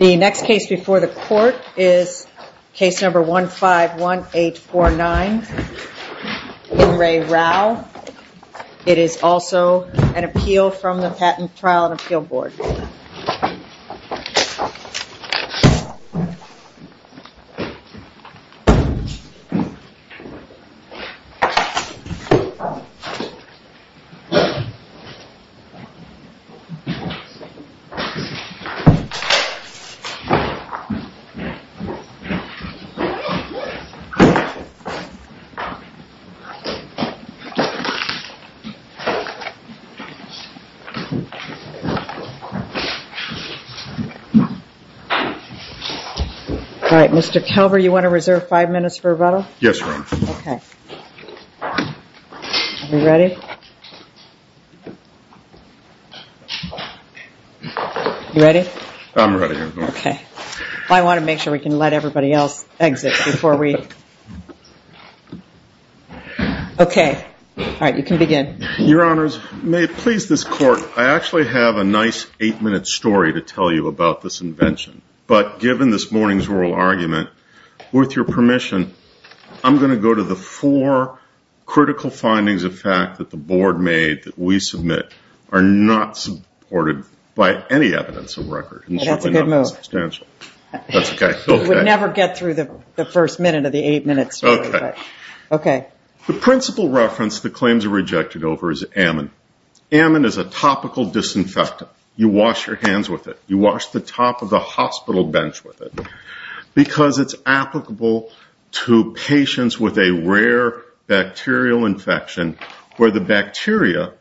The next case before the court is case number 151849, In Re Rau. It is also an appeal from the Patent Trial and Appeal Board. All right, Mr. Calver, you want to reserve five minutes for rebuttal? Yes, ma'am. You ready? I'm ready, Your Honor. Okay. I want to make sure we can let everybody else exit before we... Okay. All right, you can begin. Your Honors, may it please this Court, I actually have a nice eight-minute story to tell you about this invention. But given this morning's oral argument, with your permission, I'm going to go to the four critical findings of fact that the Board made that we submit are not supported by any evidence of record. That's a good move. It should be not substantial. That's okay. We would never get through the first minute of the eight-minute story, but okay. The principal reference the claims are rejected over is Ammon. Ammon is a topical disinfectant. You wash your hands with it. You wash the top of the hospital bench with it. Because it's applicable to patients with a rare bacterial infection, where the bacteria,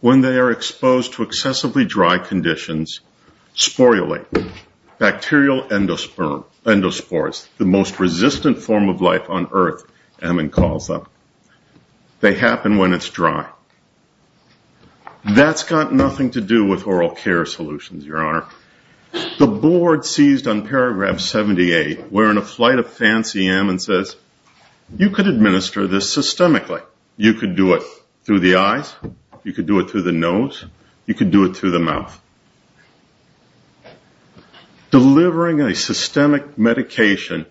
when they are exposed to excessively dry conditions, sporulate, bacterial endospores, the most resistant form of life on earth, Ammon calls them. They happen when it's dry. That's got nothing to do with oral care solutions, Your Honor. The Board seized on paragraph 78, where in a flight of fancy, Ammon says, you could administer this systemically. You could do it through the eyes. You could do it through the nose. You could do it through the mouth. Delivering a systemic medication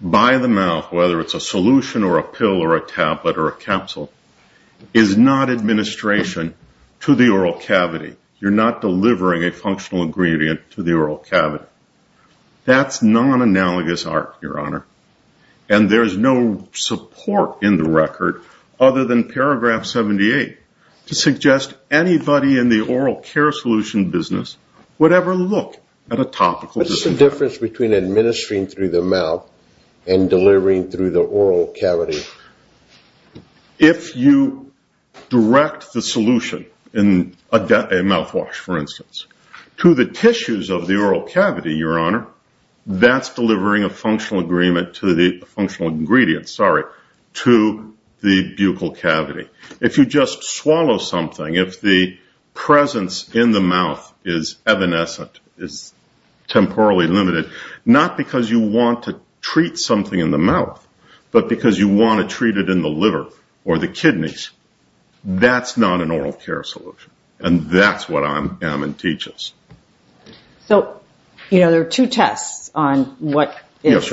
by the mouth, whether it's a solution or a pill or a tablet or a capsule, is not administration to the oral cavity. You're not delivering a functional ingredient to the oral cavity. That's non-analogous art, Your Honor. There's no support in the record, other than paragraph 78, to suggest anybody in the oral care solution business would ever look at a topical disinfectant. What's the difference between administering through the mouth and delivering through the oral cavity? If you direct the solution in a mouthwash, for instance, to the tissues of the oral cavity, Your Honor, that's delivering a functional ingredient to the buccal cavity. If you just swallow something, if the presence in the mouth is evanescent, is temporally limited, not because you want to treat something in the mouth, but because you want to treat it in the liver or the kidneys, that's not an oral care solution. And that's what Ammon teaches. So, you know, there are two tests on what is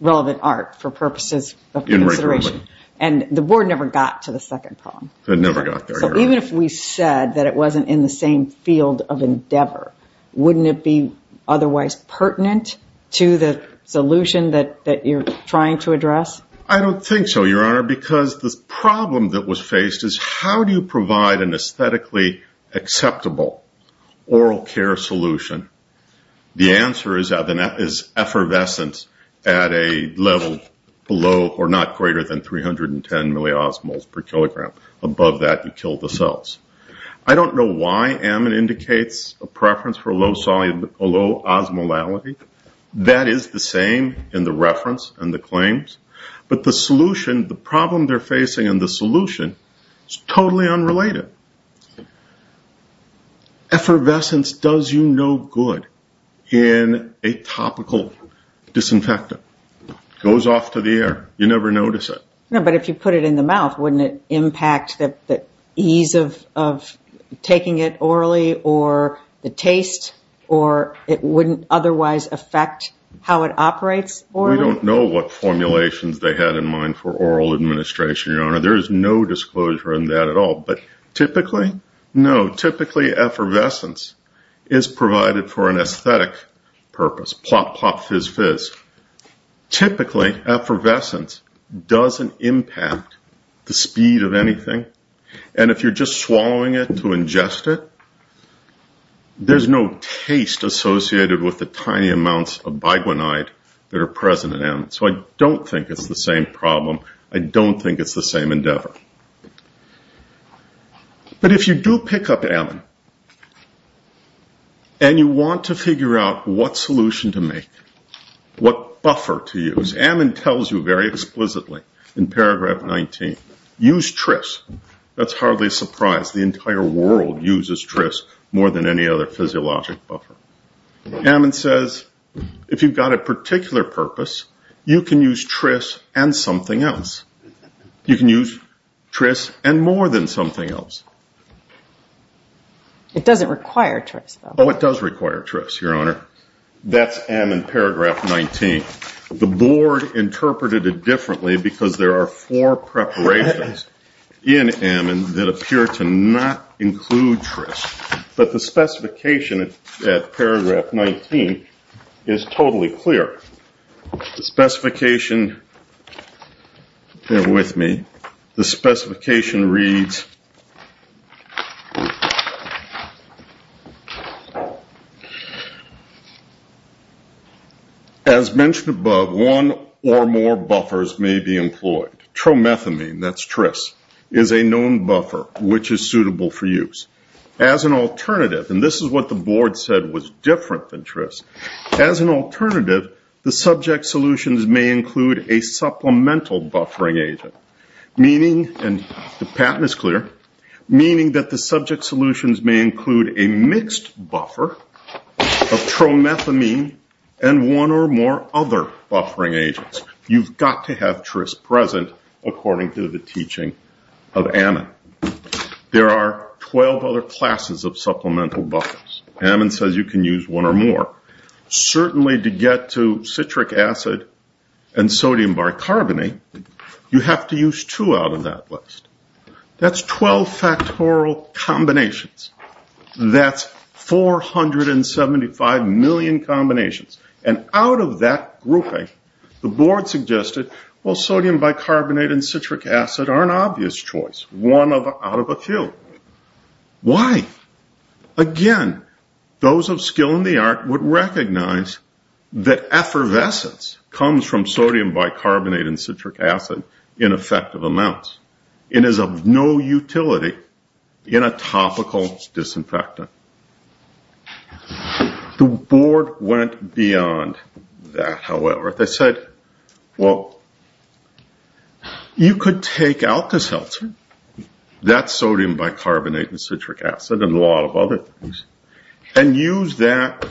relevant art for purposes of consideration. And the Board never got to the second problem. It never got there, Your Honor. Even if we said that it wasn't in the same field of endeavor, wouldn't it be otherwise pertinent to the solution that you're trying to address? I don't think so, Your Honor, because the problem that was faced is how do you provide an aesthetically acceptable oral care solution? The answer is effervescence at a level below or not greater than 310 milliosmoles per kilogram. Above that, you kill the cells. I don't know why Ammon indicates a preference for a low osmolality. That is the same in the reference and the claims. But the solution, the problem they're facing in the solution is totally unrelated. Effervescence does you no good in a topical disinfectant. It goes off to the air. You never notice it. No, but if you put it in the mouth, wouldn't it impact the ease of taking it orally or the taste or it wouldn't otherwise affect how it operates orally? We don't know what formulations they had in mind for oral administration, Your Honor. There is no disclosure in that at all. But typically, no. Typically, effervescence is provided for an aesthetic purpose, plop, plop, fizz, fizz. Typically, effervescence doesn't impact the speed of anything. And if you're just swallowing it to ingest it, there's no taste associated with the tiny amounts of biguanide that are present in Ammon. So I don't think it's the same problem. I don't think it's the same endeavor. But if you do pick up Ammon and you want to figure out what solution to make, what buffer to use, Ammon tells you very explicitly in paragraph 19, use Tris. That's hardly a surprise. The entire world uses Tris more than any other physiologic buffer. Ammon says, if you've got a particular purpose, you can use Tris and something else. You can use Tris and more than something else. It doesn't require Tris, though. Oh, it does require Tris, Your Honor. That's Ammon paragraph 19. The board interpreted it differently because there are four preparations in Ammon that appear to not include Tris. But the specification at paragraph 19 is totally clear. The specification, bear with me. The specification reads, as mentioned above, one or more buffers may be employed. Tromethamine, that's Tris, is a known buffer which is suitable for use. As an alternative, and this is what the board said was different than Tris, as an alternative the subject solutions may include a supplemental buffering agent, meaning that the subject solutions may include a mixed buffer of Tromethamine and one or more other buffering agents. You've got to have Tris present according to the teaching of Ammon. There are 12 other classes of supplemental buffers. Ammon says you can use one or more. Certainly to get to Citric Acid and Sodium Bicarbonate, you have to use two out of that list. That's 12 factorial combinations. That's 475 million combinations. Out of that grouping, the board suggested Sodium Bicarbonate and Citric Acid are an obvious choice, one out of a few. Why? Again, those of skill in the art would recognize that effervescence comes from Sodium Bicarbonate and Citric Acid in effective amounts. It is of no utility in a topical disinfectant. The board went beyond that, however. They said, well, you could take Alka-Seltzer, that's Sodium Bicarbonate and Citric Acid and a lot of other things, and use that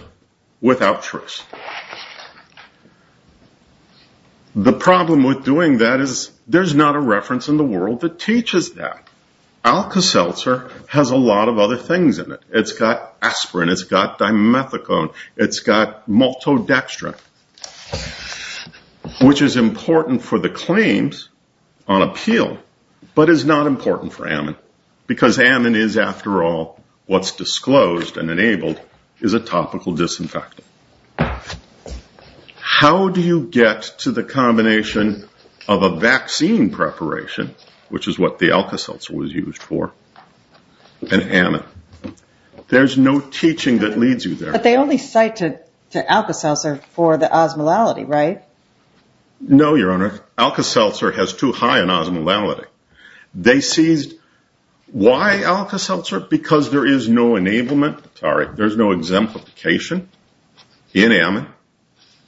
without Tris. The problem with doing that is there's not a reference in the world that teaches that. Alka-Seltzer has a lot of other things in it. It's got Aspirin, it's got Dimethicone, it's got Maltodextrin, which is important for the claims on appeal, but is not important for Ammon, because Ammon is, after all, what's disclosed and enabled, is a topical disinfectant. How do you get to the combination of a vaccine preparation, which is what the Alka-Seltzer was used for, and Ammon? There's no teaching that leads you there. But they only cite to Alka-Seltzer for the osmolality, right? No, Your Honor. Alka-Seltzer has too high an osmolality. Why Alka-Seltzer? Because there is no enablement, sorry, there's no exemplification in Ammon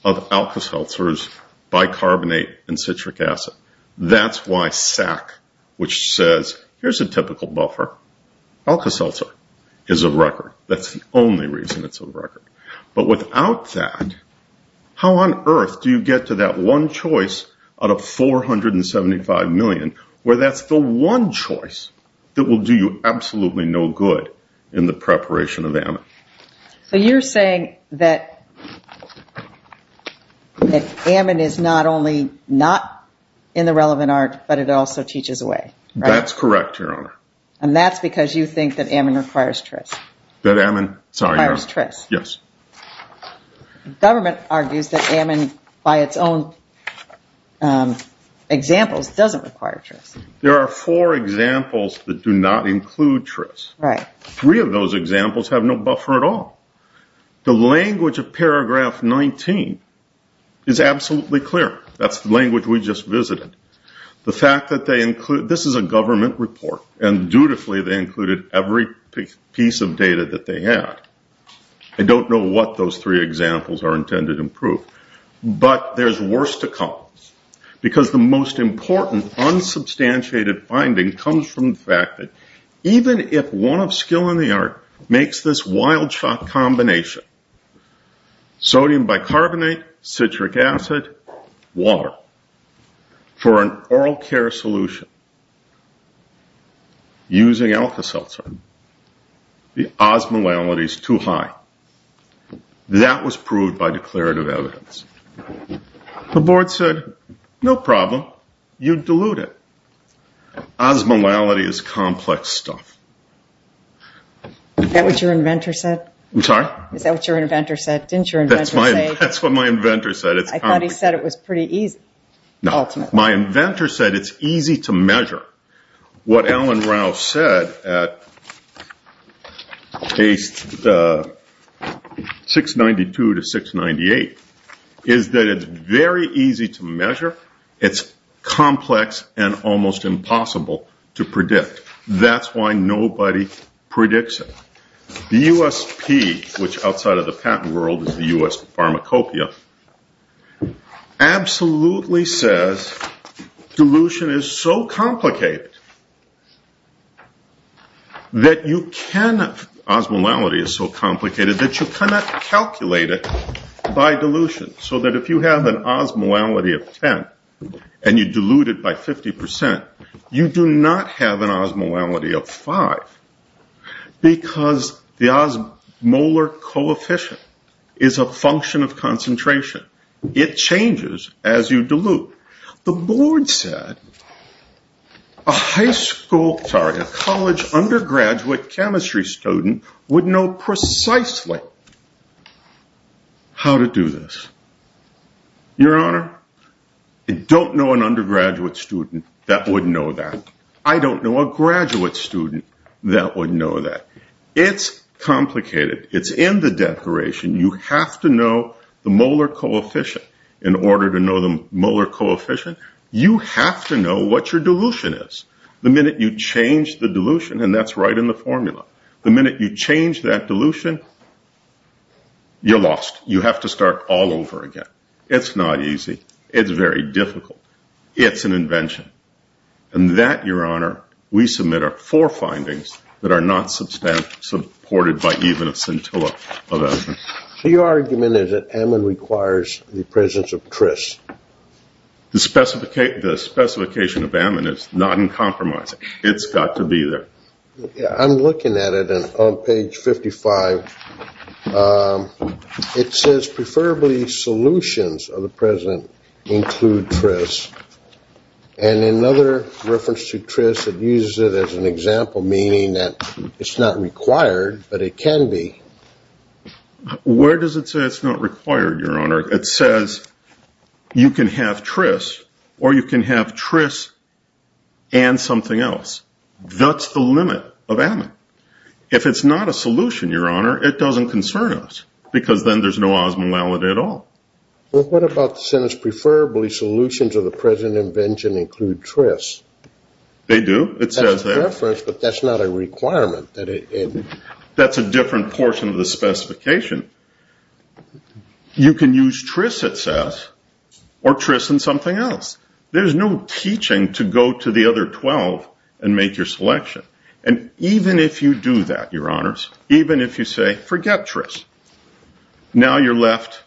of Alka-Seltzer's Bicarbonate and here's a typical buffer. Alka-Seltzer is a record. That's the only reason it's a record. But without that, how on earth do you get to that one choice out of 475 million, where that's the one choice that will do you absolutely no good in the preparation of Ammon? So you're saying that Ammon is not only not in the relevant art, but it also teaches a lot, Your Honor. And that's because you think that Ammon requires TRIS. Government argues that Ammon, by its own examples, doesn't require TRIS. There are four examples that do not include TRIS. Three of those examples have no buffer at all. The language of paragraph 19 is absolutely clear. That's the language we just visited. The fact that they include, this is a government report and dutifully they included every piece of data that they had. I don't know what those three examples are intended to prove. But there's worse to come because the most important unsubstantiated finding comes from the fact that even if one of skill in the art makes this wild shot combination, sodium bicarbonate, citric acid, water, for an oral care solution, using alpha seltzer, the osmolality is too high. That was proved by declarative evidence. The board said, no problem, you dilute it. Osmolality is complex stuff. Is that what your inventor said? I thought he said it was pretty easy. My inventor said it's easy to measure. What Alan Rouse said at page 692 to 698 is that it's very easy to measure. It's complex and almost impossible to predict. That's why no one predicts it. The USP, which outside of the patent world is the US pharmacopeia, absolutely says dilution is so complicated that you cannot calculate it by dilution. So that if you have an osmolality of 10 and you dilute it by 50%, you do not have an osmolality of 5 because the osmolar coefficient is a function of concentration. It changes as you dilute. The board said a college undergraduate chemistry student would know precisely how to do this. Your Honor, I don't know an undergraduate student that would know that. I don't know a graduate student that would know that. It's complicated. It's in the declaration. You have to know the molar coefficient. In order to know the molar coefficient, you have to know what your dilution is. The minute you change the dilution, and that's right in the formula, the minute you change that dilution, you're lost. You have to start all over again. It's not easy. It's very difficult. It's an invention. And that, Your Honor, we submit are four findings that are not supported by even a scintilla of Ammon. Your argument is that Ammon requires the presence of Tris. The specification of Ammon is not in compromise. It's got to be there. I'm looking at it on page 55. It says preferably solutions of the present include Tris. And in another reference to Tris, it uses it as an example, meaning that it's not required, but it can be. Where does it say it's not required, Your Honor? It says you can have Tris, or you can have Tris and something else. That's the limit of Ammon. If it's not a solution, Your Honor, it doesn't concern us, because then there's no osmolality at all. Well, what about the sentence, preferably solutions of the present invention include Tris? They do. It says that. That's the reference, but that's not a requirement. That's a different portion of the specification. You can use Tris, it says, or Tris and something else. There's no teaching to go to the other 12 and make your selection. And even if you do that, Your Honors, even if you say forget Tris, now you're left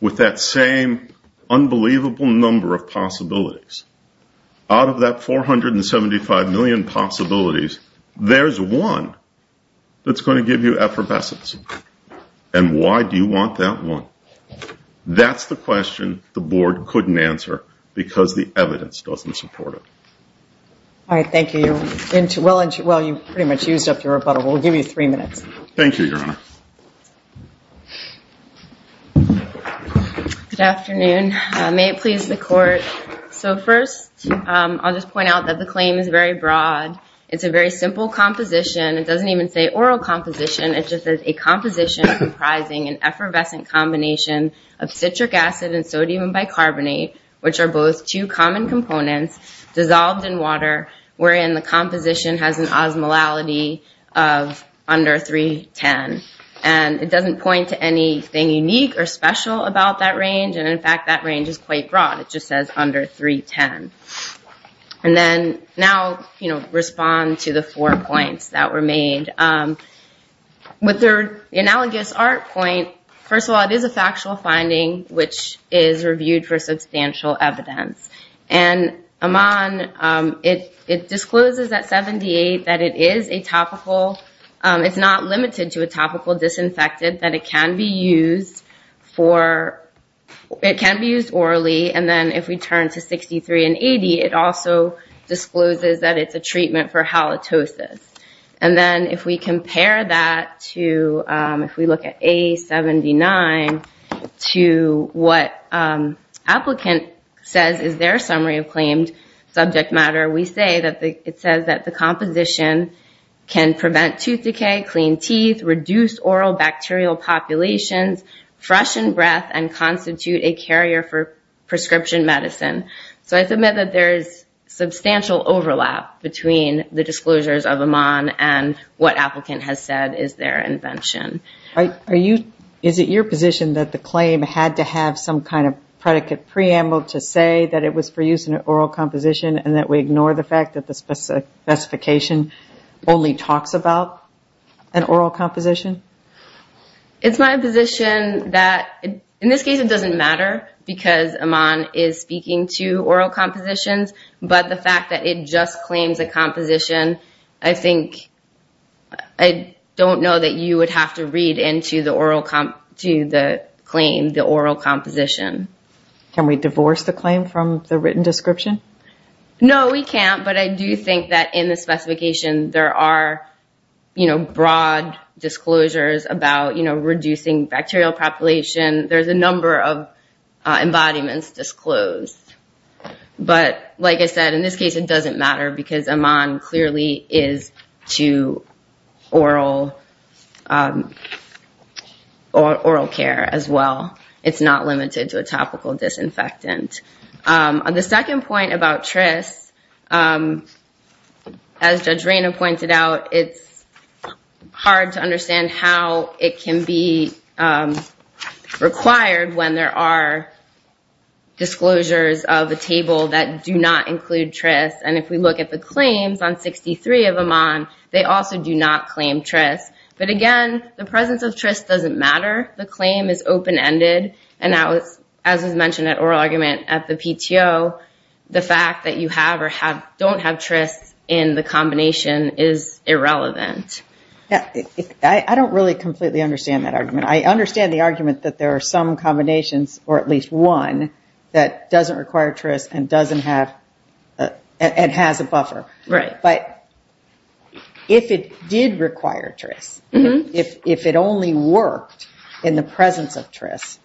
with that same unbelievable number of possibilities. Out of that 475 million possibilities, there's one that's going to give you effervescence. And why do you want that one? That's the question the board couldn't answer, because the evidence doesn't support it. All right, thank you. You pretty much used up your rebuttal. We'll give you three minutes. Thank you, Your Honor. Good afternoon. May it please the Court. So first, I'll just point out that the claim is very broad. It's a very simple composition. It doesn't even say oral composition. It just says a composition comprising an effervescent combination of citric acid and sodium bicarbonate, which are both two common components dissolved in water, wherein the composition has an osmolality of under 310. And it doesn't point to anything unique or special about that range. And in fact, that range is quite broad. It just says under 310. And then now, you know, respond to the four points that were made. With the analogous art point, first of all, it is a factual finding, which is reviewed for substantial evidence. And it discloses at 78 that it is a topical—it's not limited to a topical disinfectant, that it can be used for—it can be used orally. And then if we turn to 63 and 80, it also discloses that it's a treatment for halitosis. And then if we compare that to—if we look at A79 to what applicant says is their summary of claimed subject matter, we say that it says that the composition can prevent tooth decay, clean teeth, reduce oral bacterial populations, freshen breath, and constitute a carrier for prescription medicine. So I submit that there is substantial overlap between the disclosures of Amon and what applicant has said is their invention. Is it your position that the claim had to have some kind of predicate preamble to say that it was for use in an oral composition and that we ignore the fact that the specification only talks about an oral composition? It's my position that—in this case, it doesn't matter because Amon is speaking to oral compositions, but the fact that it just claims a composition, I think—I don't know that you would have to read into the oral—to the claim, the oral composition. Can we divorce the claim from the written description? No, we can't, but I do think that in the specification there are, you know, broad disclosures about, you know, reducing bacterial population. There's a number of embodiments disclosed. But like I said, in this case, it doesn't matter because Amon clearly is to oral care as well. It's not limited to a topical disinfectant. The second point about TRIS, as Judge Reyna pointed out, it's hard to understand how it can be required when there are disclosures of a table that do not include TRIS. And if we look at the claims on 63 of Amon, they also do not claim TRIS. But again, the presence of TRIS doesn't matter. The claim is open-ended, and that was—as was mentioned at oral argument at the PTO, the fact that you have or don't have TRIS in the combination is irrelevant. Yeah, I don't really completely understand that argument. I understand the argument that there are some combinations, or at least one, that doesn't require TRIS and doesn't have—and has a buffer. But if it did require TRIS, if it only worked in the presence of TRIS,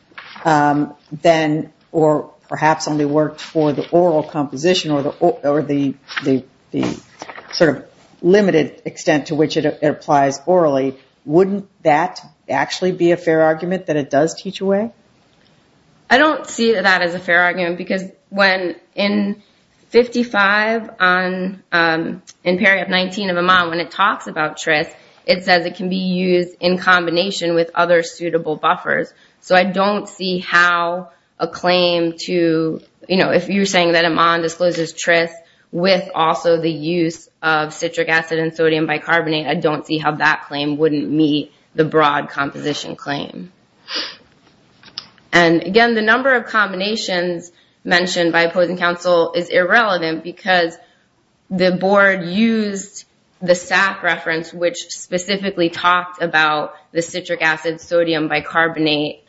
then—or perhaps only worked for the oral composition or the sort of limited extent to which it applies orally, wouldn't that actually be a fair argument, that it does teach away? I don't see that as a fair argument because when in 55 on—in period 19 of Amon, when it talks about TRIS, it says it can be used in combination with other suitable buffers. So I don't see how a claim to—if you're saying that Amon discloses TRIS with also the use of citric acid and sodium bicarbonate, I don't see how that claim wouldn't meet the broad composition claim. And again, the number of combinations mentioned by opposing counsel is irrelevant because the board used the SAP reference, which specifically talked about the citric acid-sodium-bicarbonate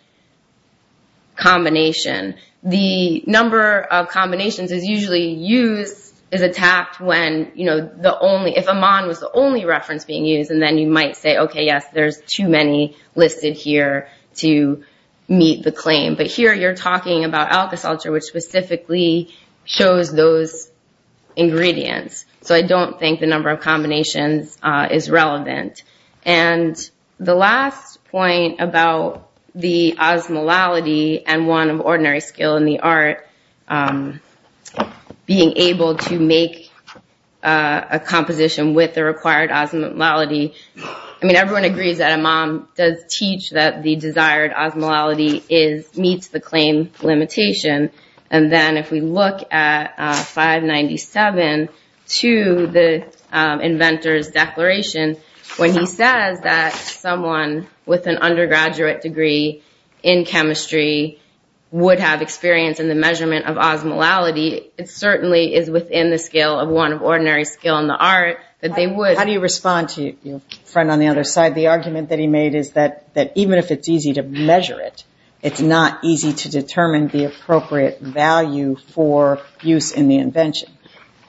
combination. The number of combinations is usually used—is attacked when, you know, the only—if Amon was the only reference being used, and then you might say, okay, yes, there's too many listed here to meet the claim. But here you're talking about just ingredients. So I don't think the number of combinations is relevant. And the last point about the osmolality and one of ordinary skill in the art, being able to make a composition with the required osmolality—I mean, everyone agrees that Amon does teach that the desired osmolality is—meets the claim limitation. And then if we look at 597 to the inventor's declaration, when he says that someone with an undergraduate degree in chemistry would have experience in the measurement of osmolality, it certainly is within the scale of one of ordinary skill in the art that they would— even if it's easy to measure it, it's not easy to determine the appropriate value for use in the invention.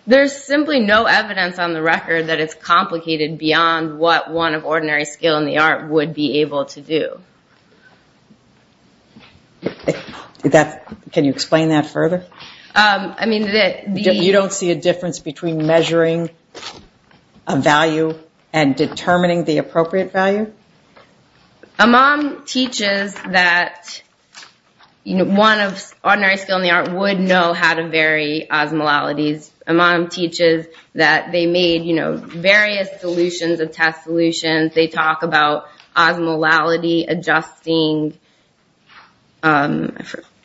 There's simply no evidence on the record that it's complicated beyond what one of ordinary skill in the art would be able to do. Can you explain that further? I mean, the— You don't see a difference between measuring a value and determining the appropriate value? Amon teaches that one of ordinary skill in the art would know how to vary osmolalities. Amon teaches that they made various solutions of test solutions. They talk about osmolality adjusting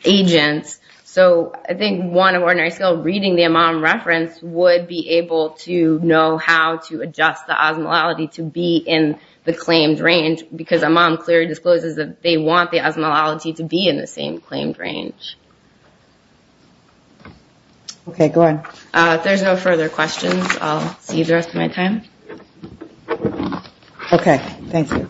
agents. So I think one of ordinary skill reading the Amon reference would be within the same range because Amon clearly discloses that they want the osmolality to be in the same claimed range. Okay, go ahead. If there's no further questions, I'll see you the rest of my time. Okay, thank you.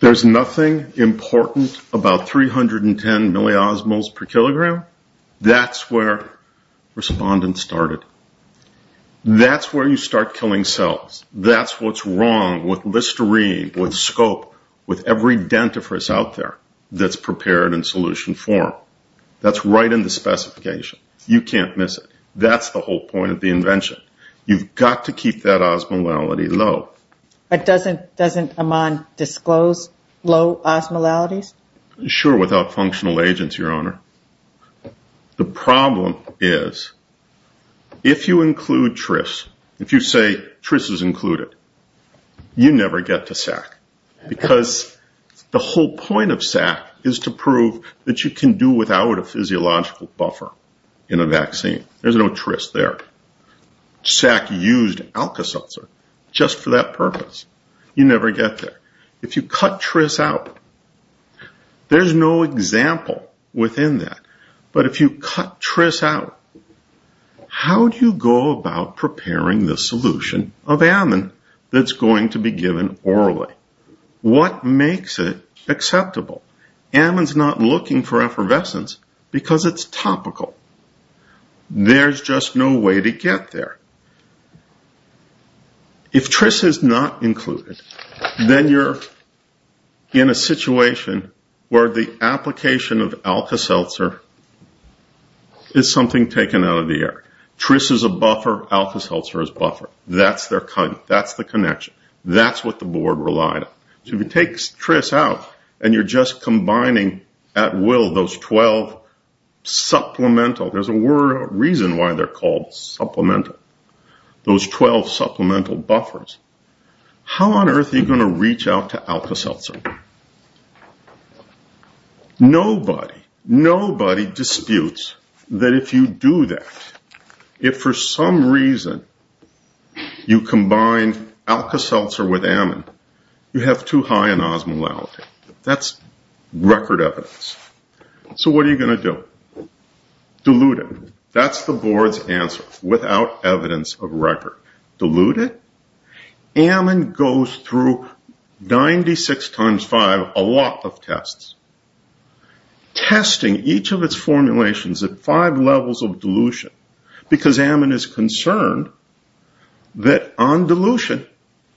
There's nothing important about 310 milliosmoles per kilogram. That's where respondents started. That's where you start killing cells. That's what's wrong with Listerine, with Scope, with every dentifrice out there that's prepared in solution form. That's right in the specification. You can't miss it. That's the whole point of the invention. You've got to keep that osmolality low. Doesn't Amon disclose low osmolalities? Sure, without functional agents, Your Honor. The problem is if you include TRIS, if you say TRIS is included, you never get to SAC because the whole point of SAC is to prove that you can do without a physiological buffer in a vaccine. There's no TRIS there. SAC used Alka-Seltzer just for that purpose. You never get there. If you cut TRIS out, there's no example within that. But if you cut TRIS out, how do you go about preparing the solution of Amon that's going to be given orally? What makes it acceptable? Amon's not looking for effervescence because it's topical. There's just no way to get there. If TRIS is not included, then you're in a situation where the application of Alka-Seltzer is something taken out of the air. TRIS is a buffer. Alka-Seltzer is a buffer. That's the connection. That's what the board relied on. If you take TRIS out and you're just combining at will those 12 supplemental, there's a reason why they're called supplemental, those 12 supplemental buffers, how on earth are you going to reach out to Alka-Seltzer? Nobody disputes that if you do that, if for some reason you combine Alka-Seltzer with Amon, you have too high an osmolality. That's record evidence. So what are you going to do? Dilute it. That's the board's answer without evidence of record. Dilute it. Amon goes through 96 times 5, a lot of tests, testing each of its formulations at 5 levels of dilution because Amon is concerned that on dilution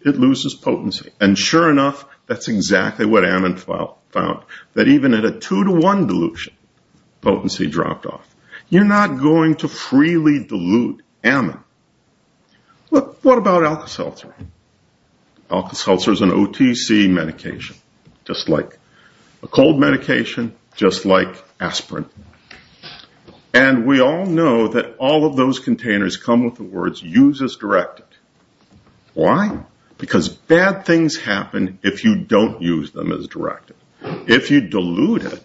it loses potency. And sure enough, that's exactly what Amon found, that even at a 2 to 1 dilution potency dropped off. You're not going to freely dilute Amon. What about Alka-Seltzer? Alka-Seltzer is an OTC medication, just like a cold medication, just like aspirin. And we all know that all of those containers come with the words use as directed. Why? Because bad things happen if you don't use them as directed. If you dilute it,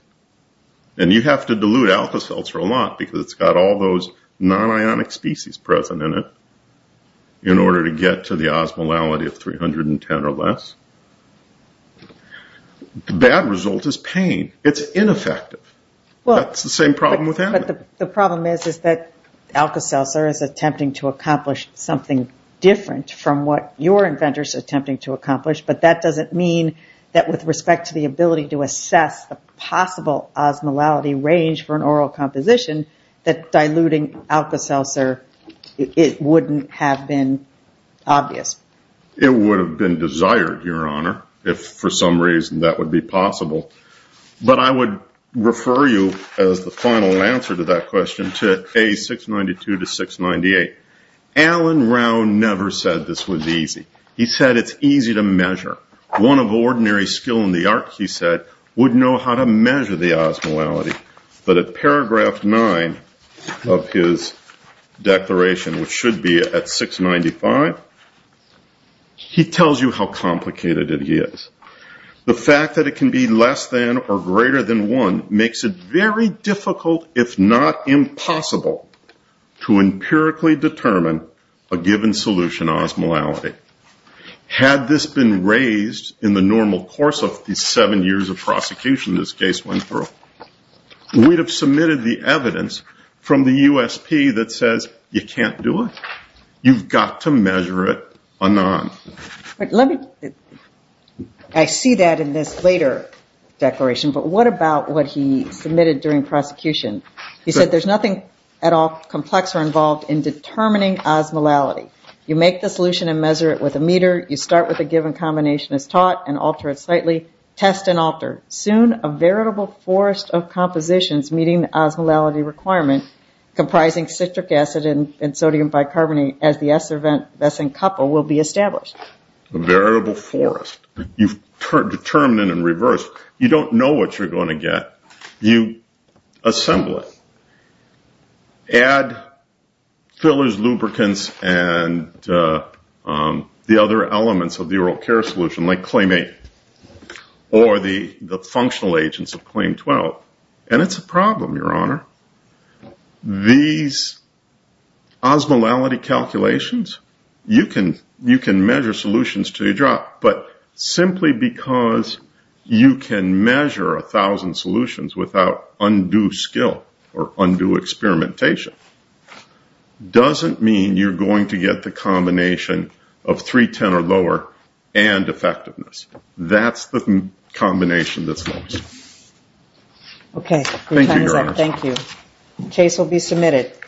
and you have to dilute Alka-Seltzer a lot because it's got all those non-ionic species present in it in order to get to the osmolality of 310 or less, the bad result is pain. It's ineffective. That's the same problem with Amon. The problem is that Alka-Seltzer is attempting to accomplish something different from what your inventor is attempting to accomplish, but that doesn't mean that with respect to the ability to assess the possible osmolality range for an oral composition, that diluting Alka-Seltzer, it wouldn't have been obvious. It would have been desired, Your Honor, if for some reason that would be possible. But I would refer you as the final answer to that question to A692 to 698. Alan Rau never said this was easy. He said it's easy to measure. One of ordinary skill in the art, he said, would know how to measure the osmolality. But at paragraph 9 of his declaration, which should be at 695, he tells you how complicated it is. The fact that it can be less than or greater than 1 makes it very difficult, if not impossible, to empirically determine a given solution osmolality. Had this been raised in the normal course of the seven years of prosecution this case went through, we would have submitted the evidence from the USP that says you can't do it. You've got to measure it or not. I see that in this later declaration, but what about what he submitted during prosecution? He said there's nothing at all complex or involved in determining osmolality. You make the solution and measure it with a meter. You start with a given combination as taught and alter it slightly. Test and alter. Soon a variable forest of compositions meeting the osmolality requirement comprising citric acid and sodium bicarbonate as the S event that's in couple will be established. Variable forest. You've determined it in reverse. You don't know what you're going to get. You don't know the other elements of the oral care solution or the functional agents. It's a problem, Your Honor. These osmolality calculations, you can measure solutions but simply because you can measure a thousand solutions without undue skill or undue experimentation doesn't mean you're going to get the combination of 310 or lower and effectiveness. That's the combination that's lost. Okay. Thank you, Your Honor. Case will be submitted.